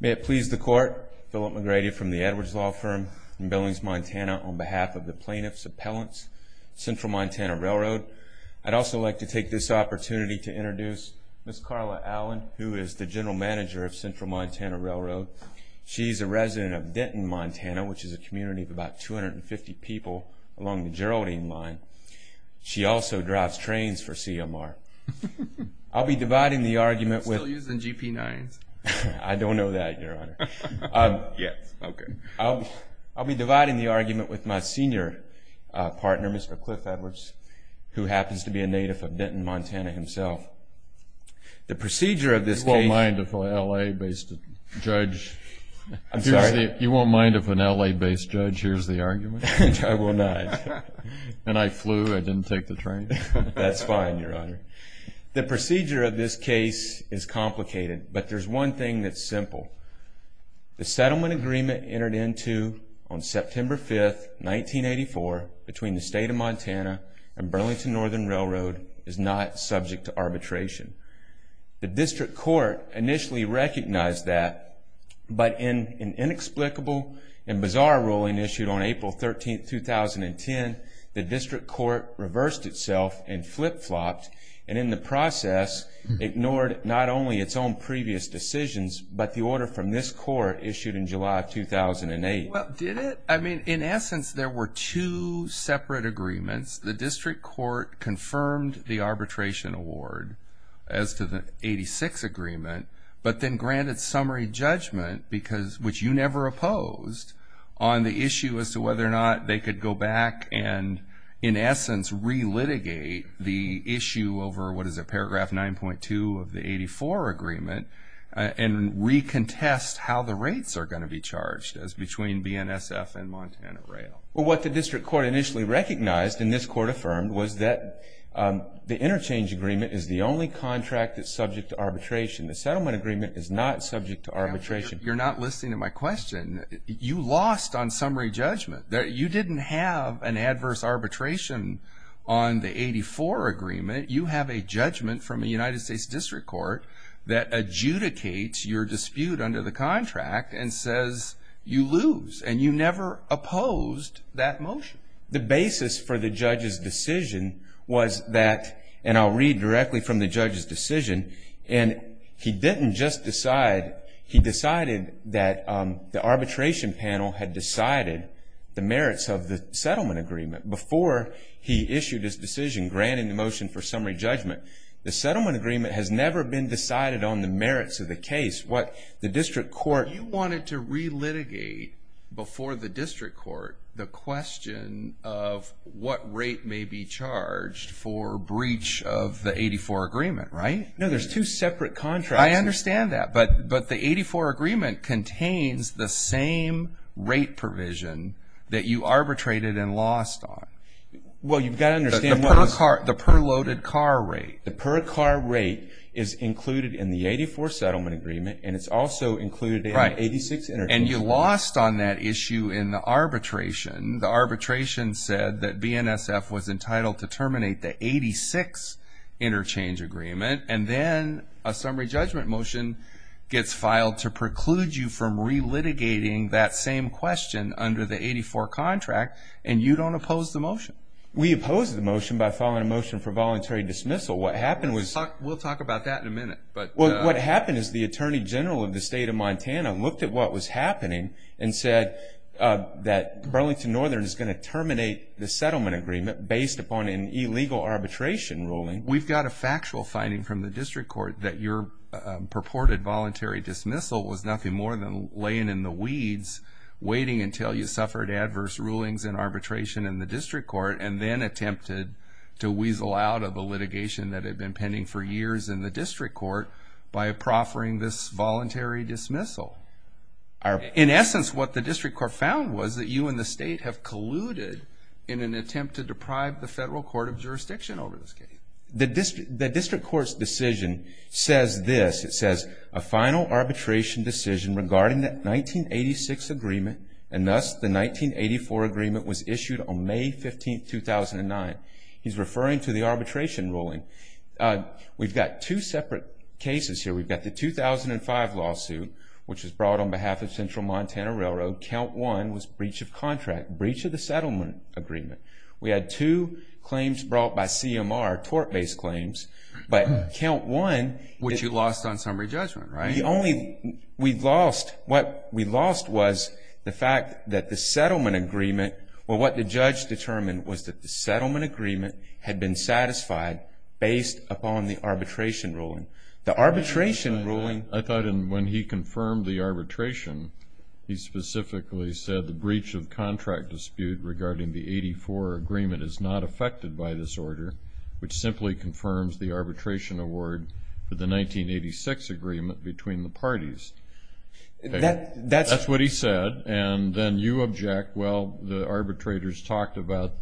May it please the court, Philip McGrady from the Edwards Law Firm in Billings, Montana, on behalf of the Plaintiff's Appellants, Central Montana Railroad. I'd also like to take this opportunity to introduce Ms. Carla Allen, who is the General Manager of Central Montana Railroad. She's a resident of Denton, Montana, which is a community of about 250 people along the Geraldine Line. She also drives trains for CMR. I'll be dividing the argument with... Still using GP9s. I don't know that, Your Honor. Yes, okay. I'll be dividing the argument with my senior partner, Mr. Cliff Edwards, who happens to be a native of Denton, Montana, himself. The procedure of this case... You won't mind if an L.A.-based judge... I'm sorry? You won't mind if an L.A.-based judge hears the argument? I will not. And I flew. I didn't take the train. That's fine, Your Honor. The procedure of this case is complicated, but there's one thing that's simple. The settlement agreement entered into on September 5, 1984, between the State of Montana and Burlington Northern Railroad is not subject to arbitration. The District Court initially recognized that, but in an inexplicable and bizarre ruling issued on April 13, 2010, the District Court reversed itself and flip-flopped, and in the process, ignored not only its own previous decisions, but the order from this Court issued in July of 2008. Well, did it? I mean, in essence, there were two separate agreements. The District Court confirmed the arbitration award as to the 86 agreement, but then granted summary judgment, which you never opposed, on the issue as to whether or not they could go back and, in essence, relitigate the issue over what is a paragraph 9.2 of the 84 agreement and recontest how the rates are going to be charged as between BNSF and Montana Rail. Well, what the District Court initially recognized, and this Court affirmed, was that the interchange agreement is the only contract that's subject to arbitration. The settlement agreement is not subject to arbitration. You're not listening to my question. You lost on summary judgment. You didn't have an adverse arbitration on the 84 agreement. You have a judgment from the United States District Court that adjudicates your dispute under the contract and says you lose, and you never opposed that motion. The basis for the judge's decision was that, and I'll read directly from the judge's decision, and he didn't just decide. He decided that the arbitration panel had decided the merits of the settlement agreement before he issued his decision granting the motion for summary judgment. The settlement agreement has never been decided on the merits of the case. What the District Court... You wanted to relitigate before the District Court the question of what rate may be charged for breach of the 84 agreement, right? No, there's two separate contracts. I understand that, but the 84 agreement contains the same rate provision that you arbitrated and lost on. Well, you've got to understand what it is. The per-loaded car rate. The per-car rate is included in the 84 settlement agreement, and it's also included in the 86 interchange agreement. And you lost on that issue in the arbitration. The arbitration said that BNSF was entitled to terminate the 86 interchange agreement, and then a summary judgment motion gets filed to preclude you from relitigating that same question under the 84 contract, and you don't oppose the motion. We opposed the motion by filing a motion for voluntary dismissal. What happened was... We'll talk about that in a minute. What happened is the Attorney General of the State of Montana looked at what was happening and said that Burlington Northern is going to terminate the settlement agreement based upon an illegal arbitration ruling. We've got a factual finding from the District Court that your purported voluntary dismissal was nothing more than laying in the weeds, waiting until you suffered adverse rulings and arbitration in the District Court, and then attempted to weasel out of the litigation that had been pending for years in the District Court by proffering this voluntary dismissal. In essence, what the District Court found was that you and the state have colluded in an attempt to deprive the federal court of jurisdiction over this case. The District Court's decision says this. It says, A final arbitration decision regarding the 1986 agreement, and thus the 1984 agreement, was issued on May 15, 2009. He's referring to the arbitration ruling. We've got two separate cases here. We've got the 2005 lawsuit, which was brought on behalf of Central Montana Railroad. Count one was breach of contract, breach of the settlement agreement. We had two claims brought by CMR, tort-based claims. But count one- Which you lost on summary judgment, right? The only- we lost- what we lost was the fact that the settlement agreement- well, what the judge determined was that the settlement agreement had been satisfied based upon the arbitration ruling. The arbitration ruling- I thought when he confirmed the arbitration, he specifically said the breach of contract dispute regarding the 84 agreement is not affected by this order, which simply confirms the arbitration award for the 1986 agreement between the parties. That's- That's what he said, and then you object. Well, the arbitrators talked about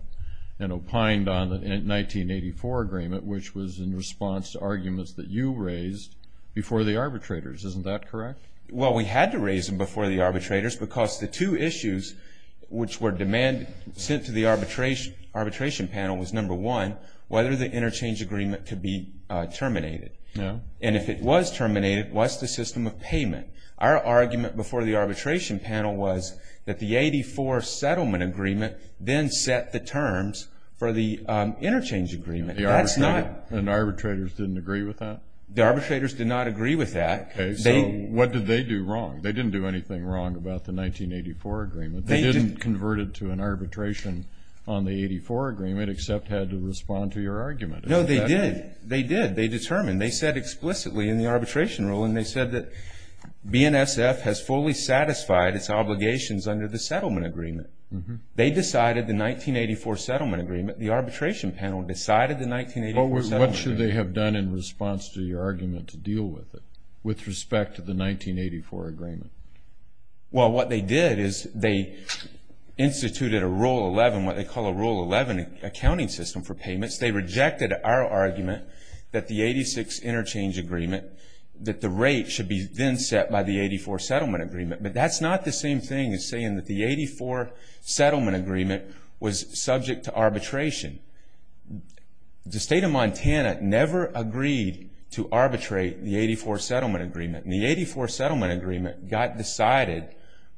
and opined on the 1984 agreement, which was in response to arguments that you raised before the arbitrators. Isn't that correct? Well, we had to raise them before the arbitrators because the two issues which were demanded- sent to the arbitration panel was, number one, whether the interchange agreement could be terminated. And if it was terminated, what's the system of payment? Our argument before the arbitration panel was that the 84 settlement agreement then set the terms for the interchange agreement. That's not- And the arbitrators didn't agree with that? The arbitrators did not agree with that. Okay, so what did they do wrong? They didn't do anything wrong about the 1984 agreement. They didn't convert it to an arbitration on the 84 agreement except had to respond to your argument. No, they did. They did. They determined. They said explicitly in the arbitration ruling, they said that BNSF has fully satisfied its obligations under the settlement agreement. They decided the 1984 settlement agreement. The arbitration panel decided the 1984 settlement agreement. What should they have done in response to your argument to deal with it with respect to the 1984 agreement? Well, what they did is they instituted a Rule 11, what they call a Rule 11 accounting system for payments. They rejected our argument that the 86 interchange agreement- that the rate should be then set by the 84 settlement agreement. But that's not the same thing as saying that the 84 settlement agreement was subject to arbitration. The state of Montana never agreed to arbitrate the 84 settlement agreement. And the 84 settlement agreement got decided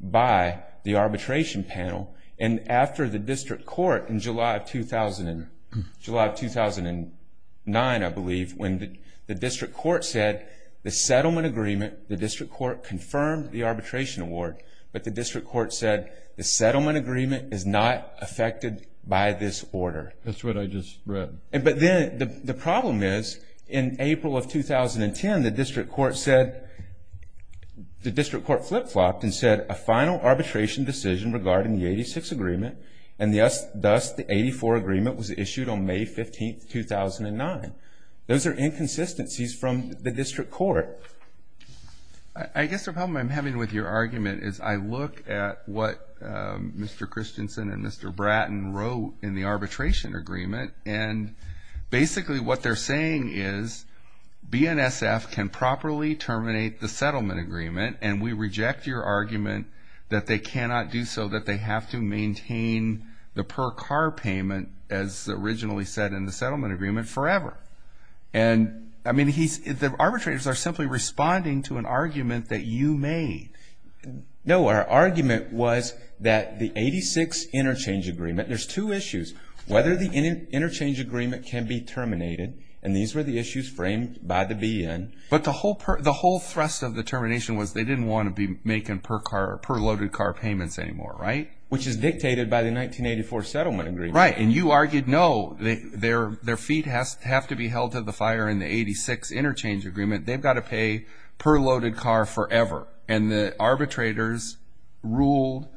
by the arbitration panel. And after the district court in July of 2009, I believe, when the district court said the settlement agreement, the district court confirmed the arbitration award, but the district court said the settlement agreement is not affected by this order. That's what I just read. But then the problem is in April of 2010, the district court said- the district court flip-flopped and said a final arbitration decision regarding the 86 agreement, and thus the 84 agreement was issued on May 15, 2009. Those are inconsistencies from the district court. I guess the problem I'm having with your argument is I look at what Mr. Christensen and Mr. Bratton wrote in the arbitration agreement, and basically what they're saying is BNSF can properly terminate the settlement agreement, and we reject your argument that they cannot do so, that they have to maintain the per-car payment, as originally said in the settlement agreement, forever. And, I mean, the arbitrators are simply responding to an argument that you made. No, our argument was that the 86 interchange agreement- there's two issues, whether the interchange agreement can be terminated, and these were the issues framed by the BN. But the whole thrust of the termination was they didn't want to be making per-loaded car payments anymore, right? Which is dictated by the 1984 settlement agreement. Right, and you argued, no, their feet have to be held to the fire in the 86 interchange agreement. They've got to pay per-loaded car forever. And the arbitrators ruled,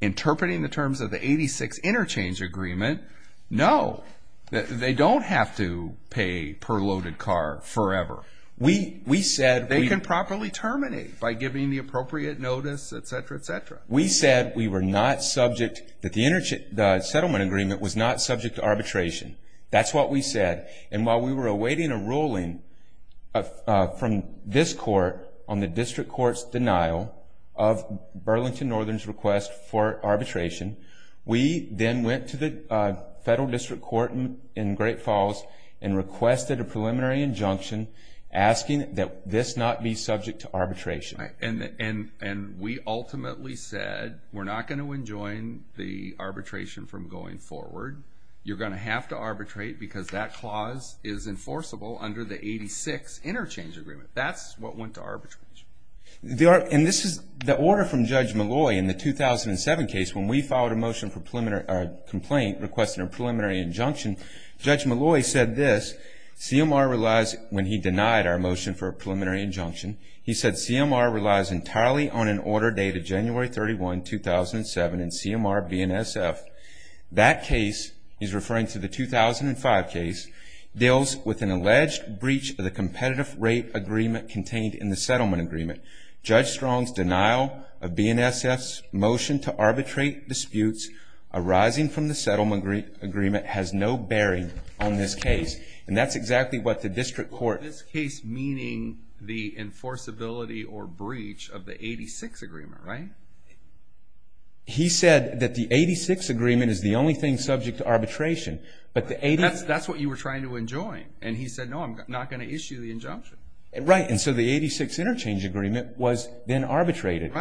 interpreting the terms of the 86 interchange agreement, no, they don't have to pay per-loaded car forever. They can properly terminate by giving the appropriate notice, et cetera, et cetera. We said that the settlement agreement was not subject to arbitration. That's what we said, and while we were awaiting a ruling from this court on the district court's denial of Burlington Northern's request for arbitration, we then went to the federal district court in Great Falls and requested a preliminary injunction asking that this not be subject to arbitration. And we ultimately said, we're not going to enjoin the arbitration from going forward. You're going to have to arbitrate because that clause is enforceable under the 86 interchange agreement. That's what went to arbitration. And this is the order from Judge Malloy in the 2007 case when we filed a motion for a complaint requesting a preliminary injunction. Judge Malloy said this, CMR relies, when he denied our motion for a preliminary injunction, he said CMR relies entirely on an order dated January 31, 2007 in CMR BNSF. That case, he's referring to the 2005 case, deals with an alleged breach of the competitive rate agreement contained in the settlement agreement. Judge Strong's denial of BNSF's motion to arbitrate disputes arising from the settlement agreement has no bearing on this case. And that's exactly what the district court... This case meaning the enforceability or breach of the 86 agreement, right? He said that the 86 agreement is the only thing subject to arbitration. That's what you were trying to enjoin. And he said, no, I'm not going to issue the injunction. Right, and so the 86 interchange agreement was then arbitrated.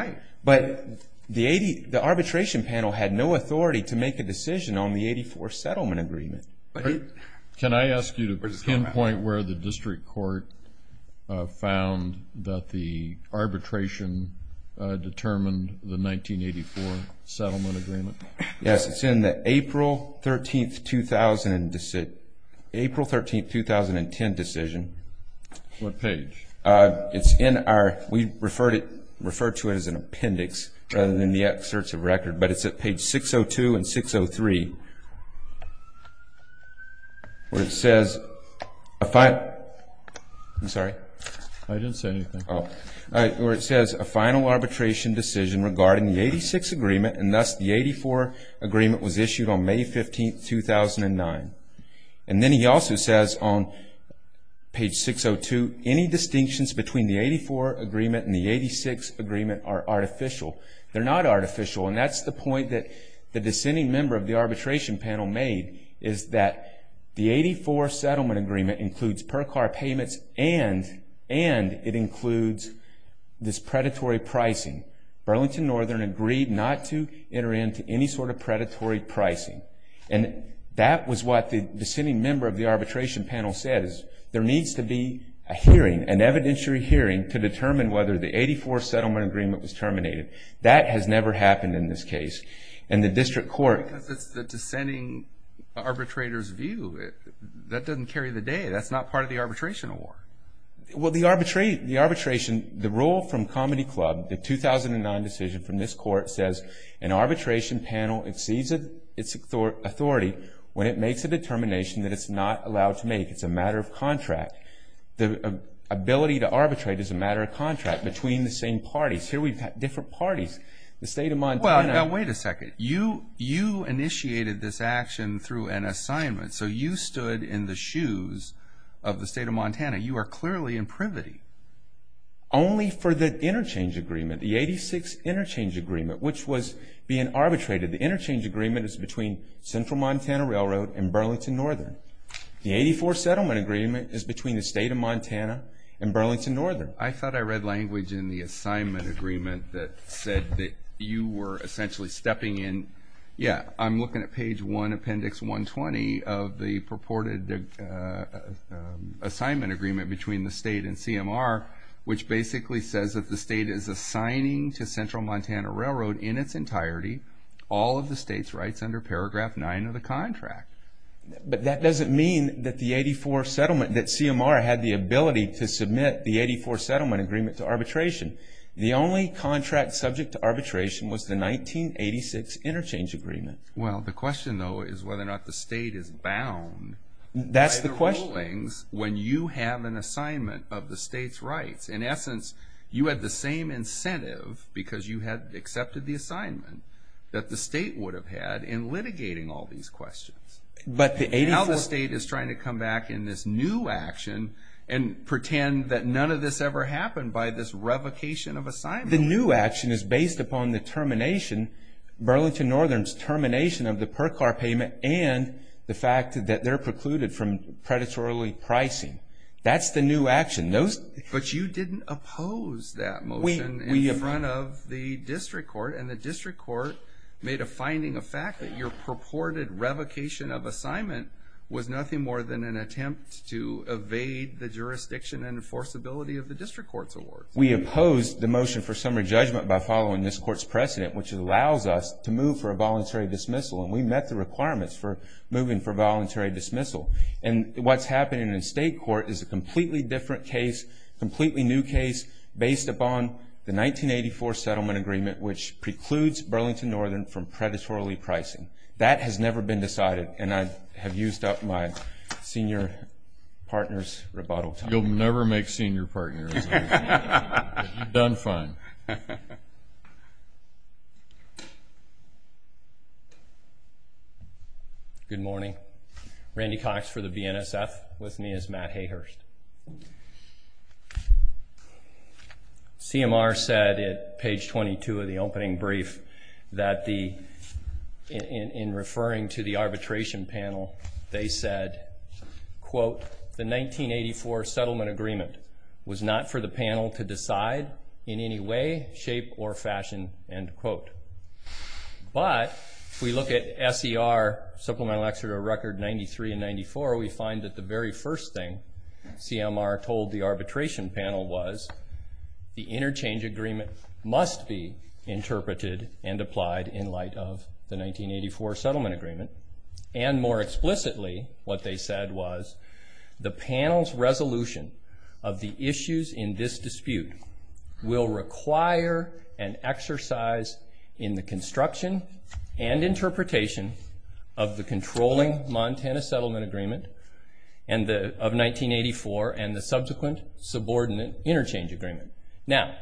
But the arbitration panel had no authority to make a decision on the 84 settlement agreement. Can I ask you to pinpoint where the district court found that the arbitration determined the 1984 settlement agreement? Yes, it's in the April 13, 2010 decision. What page? It's in our, we refer to it as an appendix rather than the excerpts of record, but it's at page 602 and 603 where it says, I'm sorry? I didn't say anything. Where it says, a final arbitration decision regarding the 86 agreement and thus the 84 agreement was issued on May 15, 2009. And then he also says on page 602, any distinctions between the 84 agreement and the 86 agreement are artificial. They're not artificial. And that's the point that the descending member of the arbitration panel made is that the 84 settlement agreement includes per car payments and it includes this predatory pricing. Burlington Northern agreed not to enter into any sort of predatory pricing. And that was what the descending member of the arbitration panel says. There needs to be a hearing, an evidentiary hearing, to determine whether the 84 settlement agreement was terminated. That has never happened in this case. And the district court. Because it's the descending arbitrator's view. That doesn't carry the day. That's not part of the arbitration award. Well, the arbitration, the rule from Comedy Club, the 2009 decision from this court, says an arbitration panel exceeds its authority when it makes a determination that it's not allowed to make. It's a matter of contract. The ability to arbitrate is a matter of contract between the same parties. Here we've got different parties. The state of mind. Well, now wait a second. You initiated this action through an assignment. So you stood in the shoes of the state of Montana. You are clearly in privity. Only for the interchange agreement, the 86 interchange agreement, which was being arbitrated. The interchange agreement is between Central Montana Railroad and Burlington Northern. The 84 settlement agreement is between the state of Montana and Burlington Northern. I thought I read language in the assignment agreement that said that you were essentially stepping in. Yeah, I'm looking at page 1, appendix 120 of the purported assignment agreement between the state and CMR, which basically says that the state is assigning to Central Montana Railroad in its entirety all of the state's rights under paragraph 9 of the contract. But that doesn't mean that the 84 settlement, that CMR had the ability to submit the 84 settlement agreement to arbitration. The only contract subject to arbitration was the 1986 interchange agreement. Well, the question, though, is whether or not the state is bound by the rulings when you have an assignment of the state's rights. In essence, you had the same incentive because you had accepted the assignment that the state would have had in litigating all these questions. Now the state is trying to come back in this new action and pretend that none of this ever happened by this revocation of assignment. The new action is based upon the termination, Burlington Northern's termination of the per-car payment and the fact that they're precluded from predatory pricing. That's the new action. But you didn't oppose that motion in front of the district court, and the district court made a finding of fact that your purported revocation of assignment was nothing more than an attempt to evade the jurisdiction and enforceability of the district court's awards. We opposed the motion for summary judgment by following this court's precedent, which allows us to move for a voluntary dismissal, and we met the requirements for moving for voluntary dismissal. And what's happening in the state court is a completely different case, a completely new case, based upon the 1984 settlement agreement, which precludes Burlington Northern from predatory pricing. That has never been decided, and I have used up my senior partner's rebuttal time. You'll never make senior partners. You've done fine. Good morning. Randy Cox for the BNSF. With me is Matt Hayhurst. CMR said at page 22 of the opening brief that in referring to the arbitration panel, they said, quote, the 1984 settlement agreement was not for the panel to decide in any way, shape, or fashion, end quote. But if we look at SER Supplemental Exeter Record 93 and 94, we find that the very first thing CMR told the arbitration panel was the interchange agreement must be interpreted and applied in light of the 1984 settlement agreement and more explicitly, what they said was the panel's resolution of the issues in this dispute will require an exercise in the construction and interpretation of the controlling Montana settlement agreement of 1984 and the subsequent subordinate interchange agreement. Now,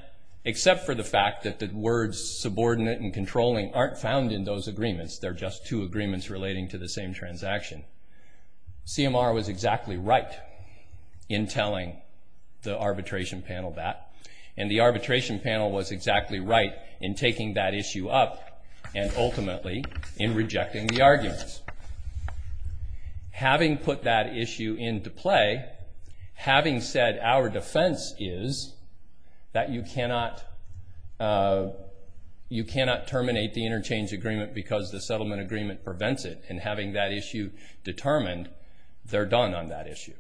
except for the fact that the words subordinate and controlling aren't found in those agreements, they're just two agreements relating to the same transaction, CMR was exactly right in telling the arbitration panel that, and the arbitration panel was exactly right in taking that issue up and ultimately in rejecting the arguments. Having put that issue into play, having said our defense is that you cannot terminate the interchange agreement because the settlement agreement prevents it, and having that issue determined, they're done on that issue.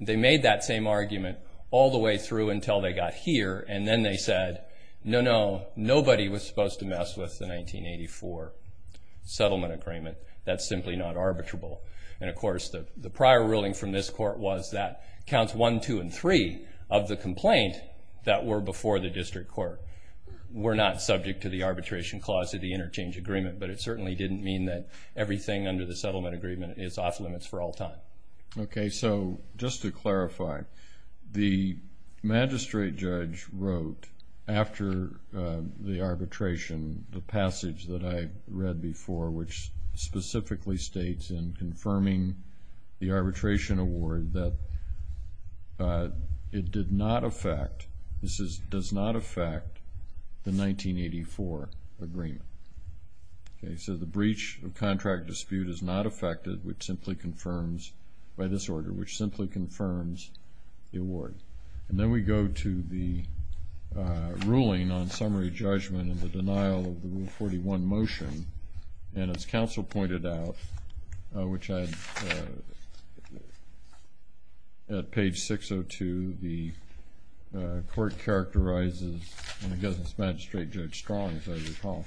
They made that same argument all the way through until they got here, and then they said, no, no, nobody was supposed to mess with the 1984 settlement agreement. That's simply not arbitrable. And of course, the prior ruling from this court was that counts one, two, and three of the complaint that were before the district court were not subject to the arbitration clause of the interchange agreement, but it certainly didn't mean that everything under the settlement agreement is off-limits for all time. Okay, so just to clarify, the magistrate judge wrote after the arbitration the passage that I read before, which specifically states in confirming the arbitration award that it did not affect, this is, does not affect the 1984 agreement. Okay, so the breach of contract dispute is not affected, which simply confirms by this order, which simply confirms the award. And then we go to the ruling on summary judgment and the denial of the Rule 41 motion, and as counsel pointed out, which I had at page 602, the court characterizes, and I guess it's Magistrate Judge Strong, as I recall,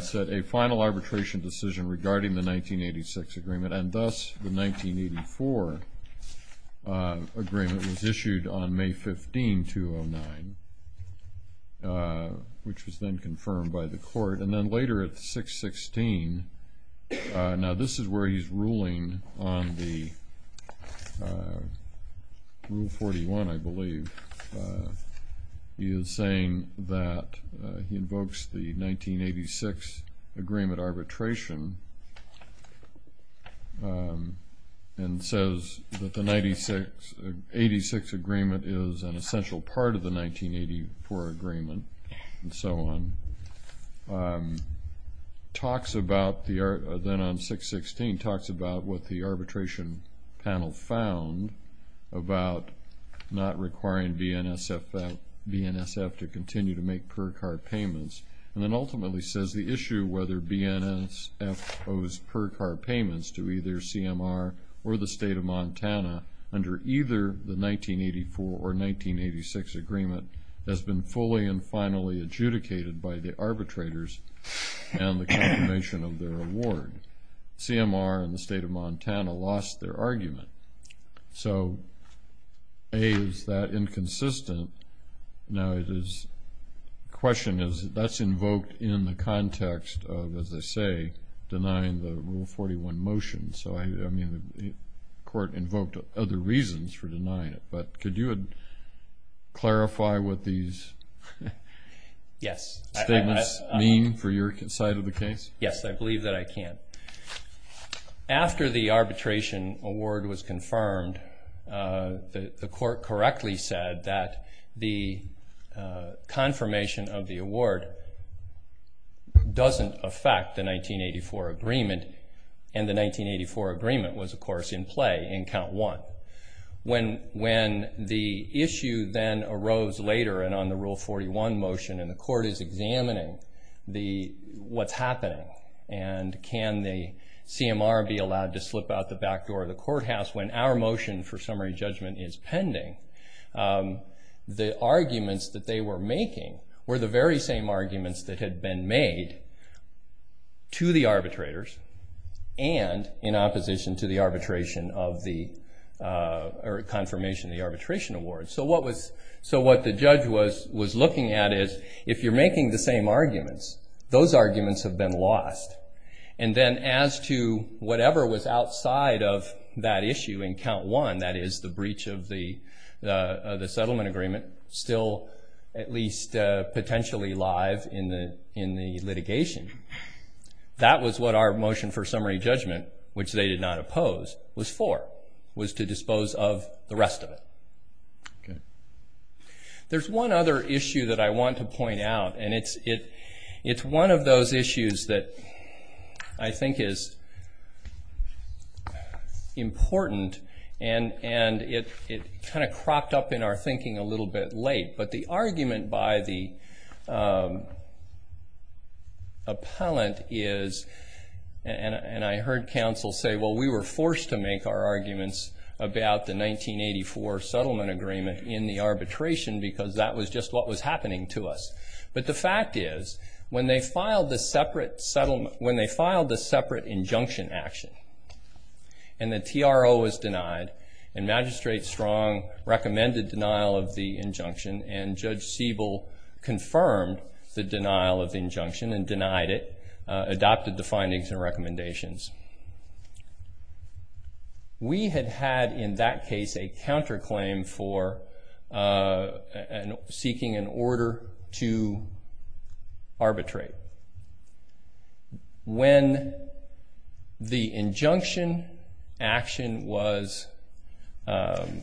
said a final arbitration decision regarding the 1986 agreement, and thus the 1984 agreement was issued on May 15, 2009, which was then confirmed by the court. And then later at 616, now this is where he's ruling on the Rule 41, I believe. He is saying that he invokes the 1986 agreement arbitration and says that the 1986 agreement is an essential part of the 1984 agreement, and so on. He talks about, then on 616, talks about what the arbitration panel found about not requiring BNSF to continue to make per-card payments, and then ultimately says the issue, whether BNSF owes per-card payments to either CMR or the State of Montana under either the 1984 or 1986 agreement has been fully and finally adjudicated by the arbitrators and the confirmation of their award. CMR and the State of Montana lost their argument. So, A, is that inconsistent? Now, the question is, that's invoked in the context of, as I say, denying the Rule 41 motion. So, I mean, the court invoked other reasons for denying it, but could you clarify what these statements mean for your side of the case? Yes, I believe that I can. After the arbitration award was confirmed, the court correctly said that the confirmation of the award doesn't affect the 1984 agreement, and the 1984 agreement was, of course, in play in Count 1. When the issue then arose later and on the Rule 41 motion and the court is examining what's happening and can the CMR be allowed to slip out the back door of the courthouse when our motion for summary judgment is pending, the arguments that they were making were the very same arguments that had been made to the arbitrators and in opposition to the arbitration of the... or confirmation of the arbitration award. So what the judge was looking at is, if you're making the same arguments, those arguments have been lost. And then as to whatever was outside of that issue in Count 1, that is the breach of the settlement agreement, still at least potentially live in the litigation, that was what our motion for summary judgment, which they did not oppose, was for, was to dispose of the rest of it. There's one other issue that I want to point out, and it's one of those issues that I think is important and it kind of cropped up in our thinking a little bit late, but the argument by the appellant is, and I heard counsel say, well, we were forced to make our arguments about the 1984 settlement agreement in the arbitration because that was just what was happening to us. But the fact is, when they filed the separate injunction action and the TRO was denied and Magistrate Strong recommended denial of the injunction and Judge Siebel confirmed the denial of the injunction and denied it, adopted the findings and recommendations, we had had in that case a counterclaim for seeking an order to arbitrate. When the injunction action was denied,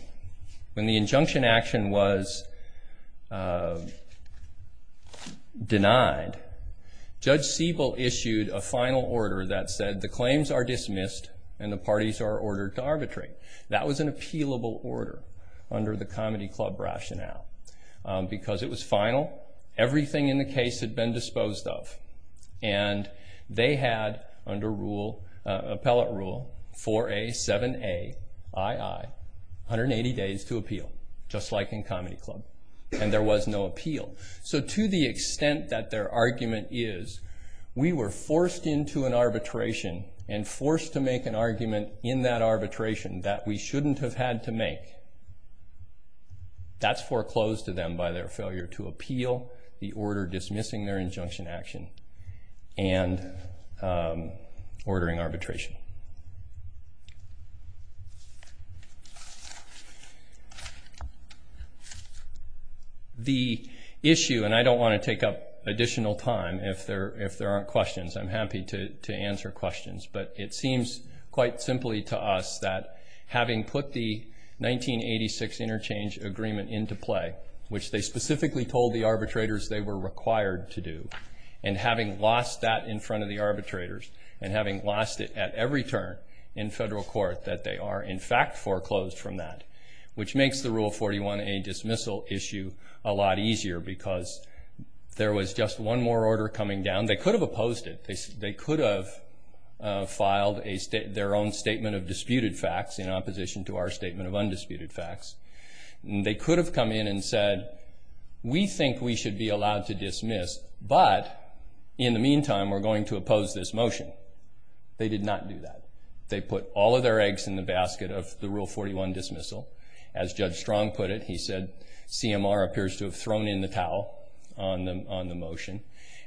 Judge Siebel issued a final order that said the claims are dismissed and the parties are ordered to arbitrate. That was an appealable order under the comedy club rationale because it was final. Everything in the case had been disposed of and they had, under appellate rule, 4A, 7A, I.I., 180 days to appeal, just like in comedy club, and there was no appeal. So to the extent that their argument is, we were forced into an arbitration and forced to make an argument in that arbitration that we shouldn't have had to make, that's foreclosed to them by their failure to appeal the order dismissing their injunction action and ordering arbitration. The issue, and I don't want to take up additional time if there aren't questions. I'm happy to answer questions, but it seems quite simply to us that having put the 1986 interchange agreement into play, which they specifically told the arbitrators they were required to do, and having lost that in front of the arbitrators and having lost it at every turn in federal court that they are, in fact, foreclosed from that, which makes the Rule 41A dismissal issue a lot easier because there was just one more order coming down. They could have opposed it. They could have filed their own statement of disputed facts in opposition to our statement of undisputed facts. They could have come in and said, we think we should be allowed to dismiss, but in the meantime we're going to oppose this motion. They did not do that. They put all of their eggs in the basket of the Rule 41 dismissal. As Judge Strong put it, he said, CMR appears to have thrown in the towel on the motion,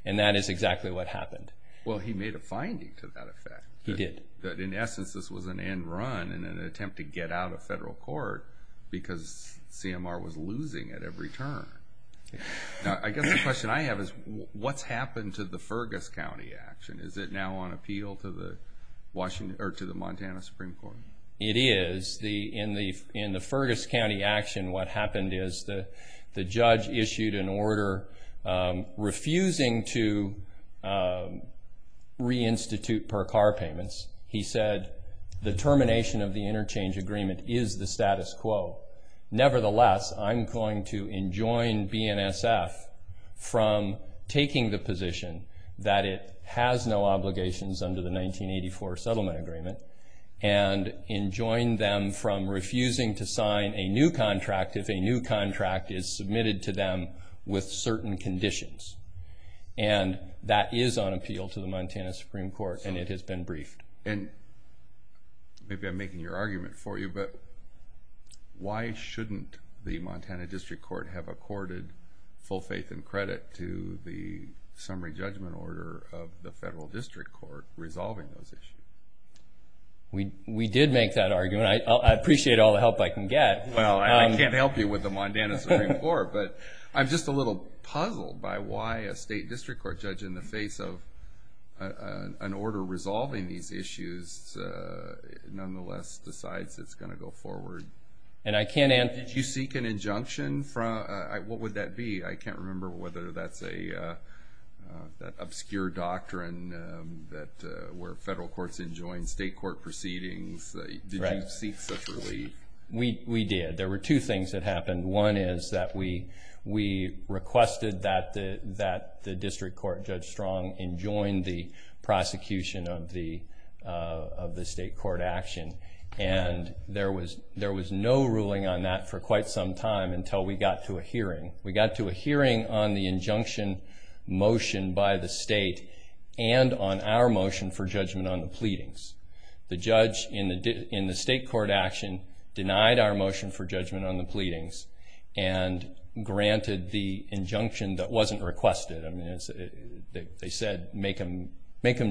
and that is exactly what happened. Well, he made a finding to that effect. He did. That, in essence, this was an end run and an attempt to get out of federal court because CMR was losing at every turn. Now, I guess the question I have is, what's happened to the Fergus County action? Is it now on appeal to the Montana Supreme Court? It is. In the Fergus County action, what happened is the judge issued an order refusing to reinstitute per car payments. He said the termination of the interchange agreement is the status quo. Nevertheless, I'm going to enjoin BNSF from taking the position that it has no obligations under the 1984 settlement agreement and enjoin them from refusing to sign a new contract if a new contract is submitted to them with certain conditions. That is on appeal to the Montana Supreme Court, and it has been briefed. Maybe I'm making your argument for you, but why shouldn't the Montana District Court have accorded full faith and credit to the summary judgment order of the federal district court resolving those issues? We did make that argument. I appreciate all the help I can get. Well, I can't help you with the Montana Supreme Court, but I'm just a little puzzled by why a state district court judge in the face of an order resolving these issues nonetheless decides it's going to go forward. Did you seek an injunction? What would that be? I can't remember whether that's an obscure doctrine where federal courts enjoin state court proceedings. Did you seek such relief? We did. There were two things that happened. One is that we requested that the district court judge Strong enjoin the prosecution of the state court action, and there was no ruling on that for quite some time until we got to a hearing. We got to a hearing on the injunction motion by the state and on our motion for judgment on the pleadings. The judge in the state court action denied our motion for judgment on the pleadings and granted the injunction that wasn't requested. I mean, they said make them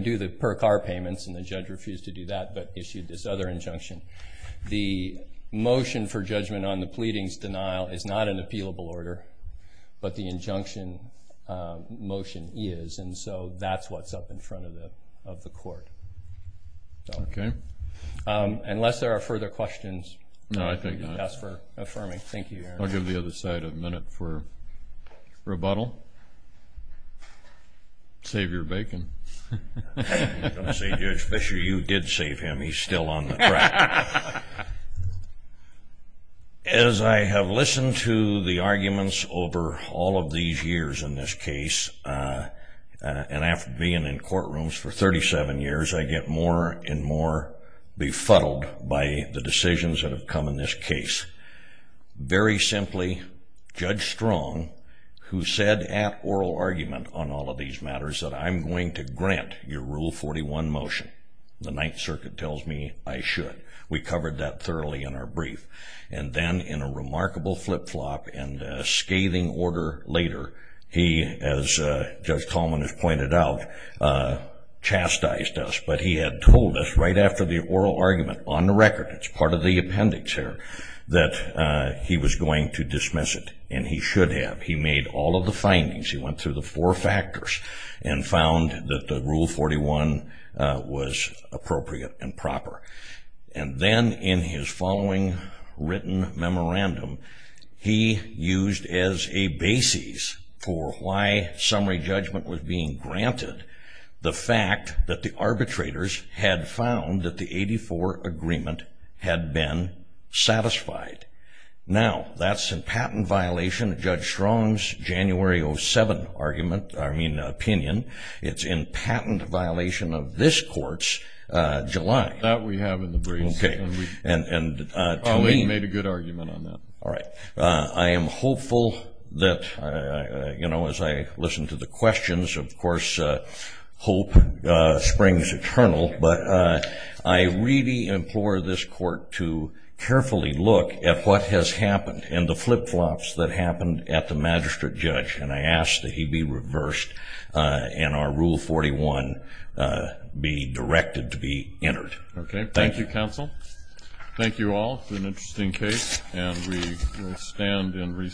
do the per-car payments, and the judge refused to do that but issued this other injunction. The motion for judgment on the pleadings denial is not an appealable order, but the injunction motion is, and so that's what's up in front of the court. Okay. Unless there are further questions. No, I think not. Thank you. I'll give the other side a minute for rebuttal. Save your bacon. I was going to say, Judge Fisher, you did save him. He's still on the track. As I have listened to the arguments over all of these years in this case, and after being in courtrooms for 37 years, I get more and more befuddled by the decisions that have come in this case. Very simply, Judge Strong, who said at oral argument on all of these matters that I'm going to grant your Rule 41 motion, the Ninth Circuit tells me I should. We covered that thoroughly in our brief. And then in a remarkable flip-flop and a scathing order later, he, as Judge Coleman has pointed out, chastised us. But he had told us right after the oral argument, on the record, it's part of the appendix here, that he was going to dismiss it, and he should have. He made all of the findings. He went through the four factors and found that the Rule 41 was appropriate and proper. And then in his following written memorandum, he used as a basis for why summary judgment was being granted the fact that the arbitrators had found that the 84 agreement had been satisfied. Now, that's a patent violation of Judge Strong's January 07 argument, I mean, opinion. It's in patent violation of this court's, July. That we have in the briefs. Okay. And to me he made a good argument on that. All right. I am hopeful that, you know, as I listen to the questions, of course hope springs eternal. But I really implore this court to carefully look at what has happened and the flip-flops that happened at the magistrate judge. And I ask that he be reversed and our Rule 41 be directed to be entered. Okay. Thank you, counsel. Thank you all for an interesting case. And we will stand in recess.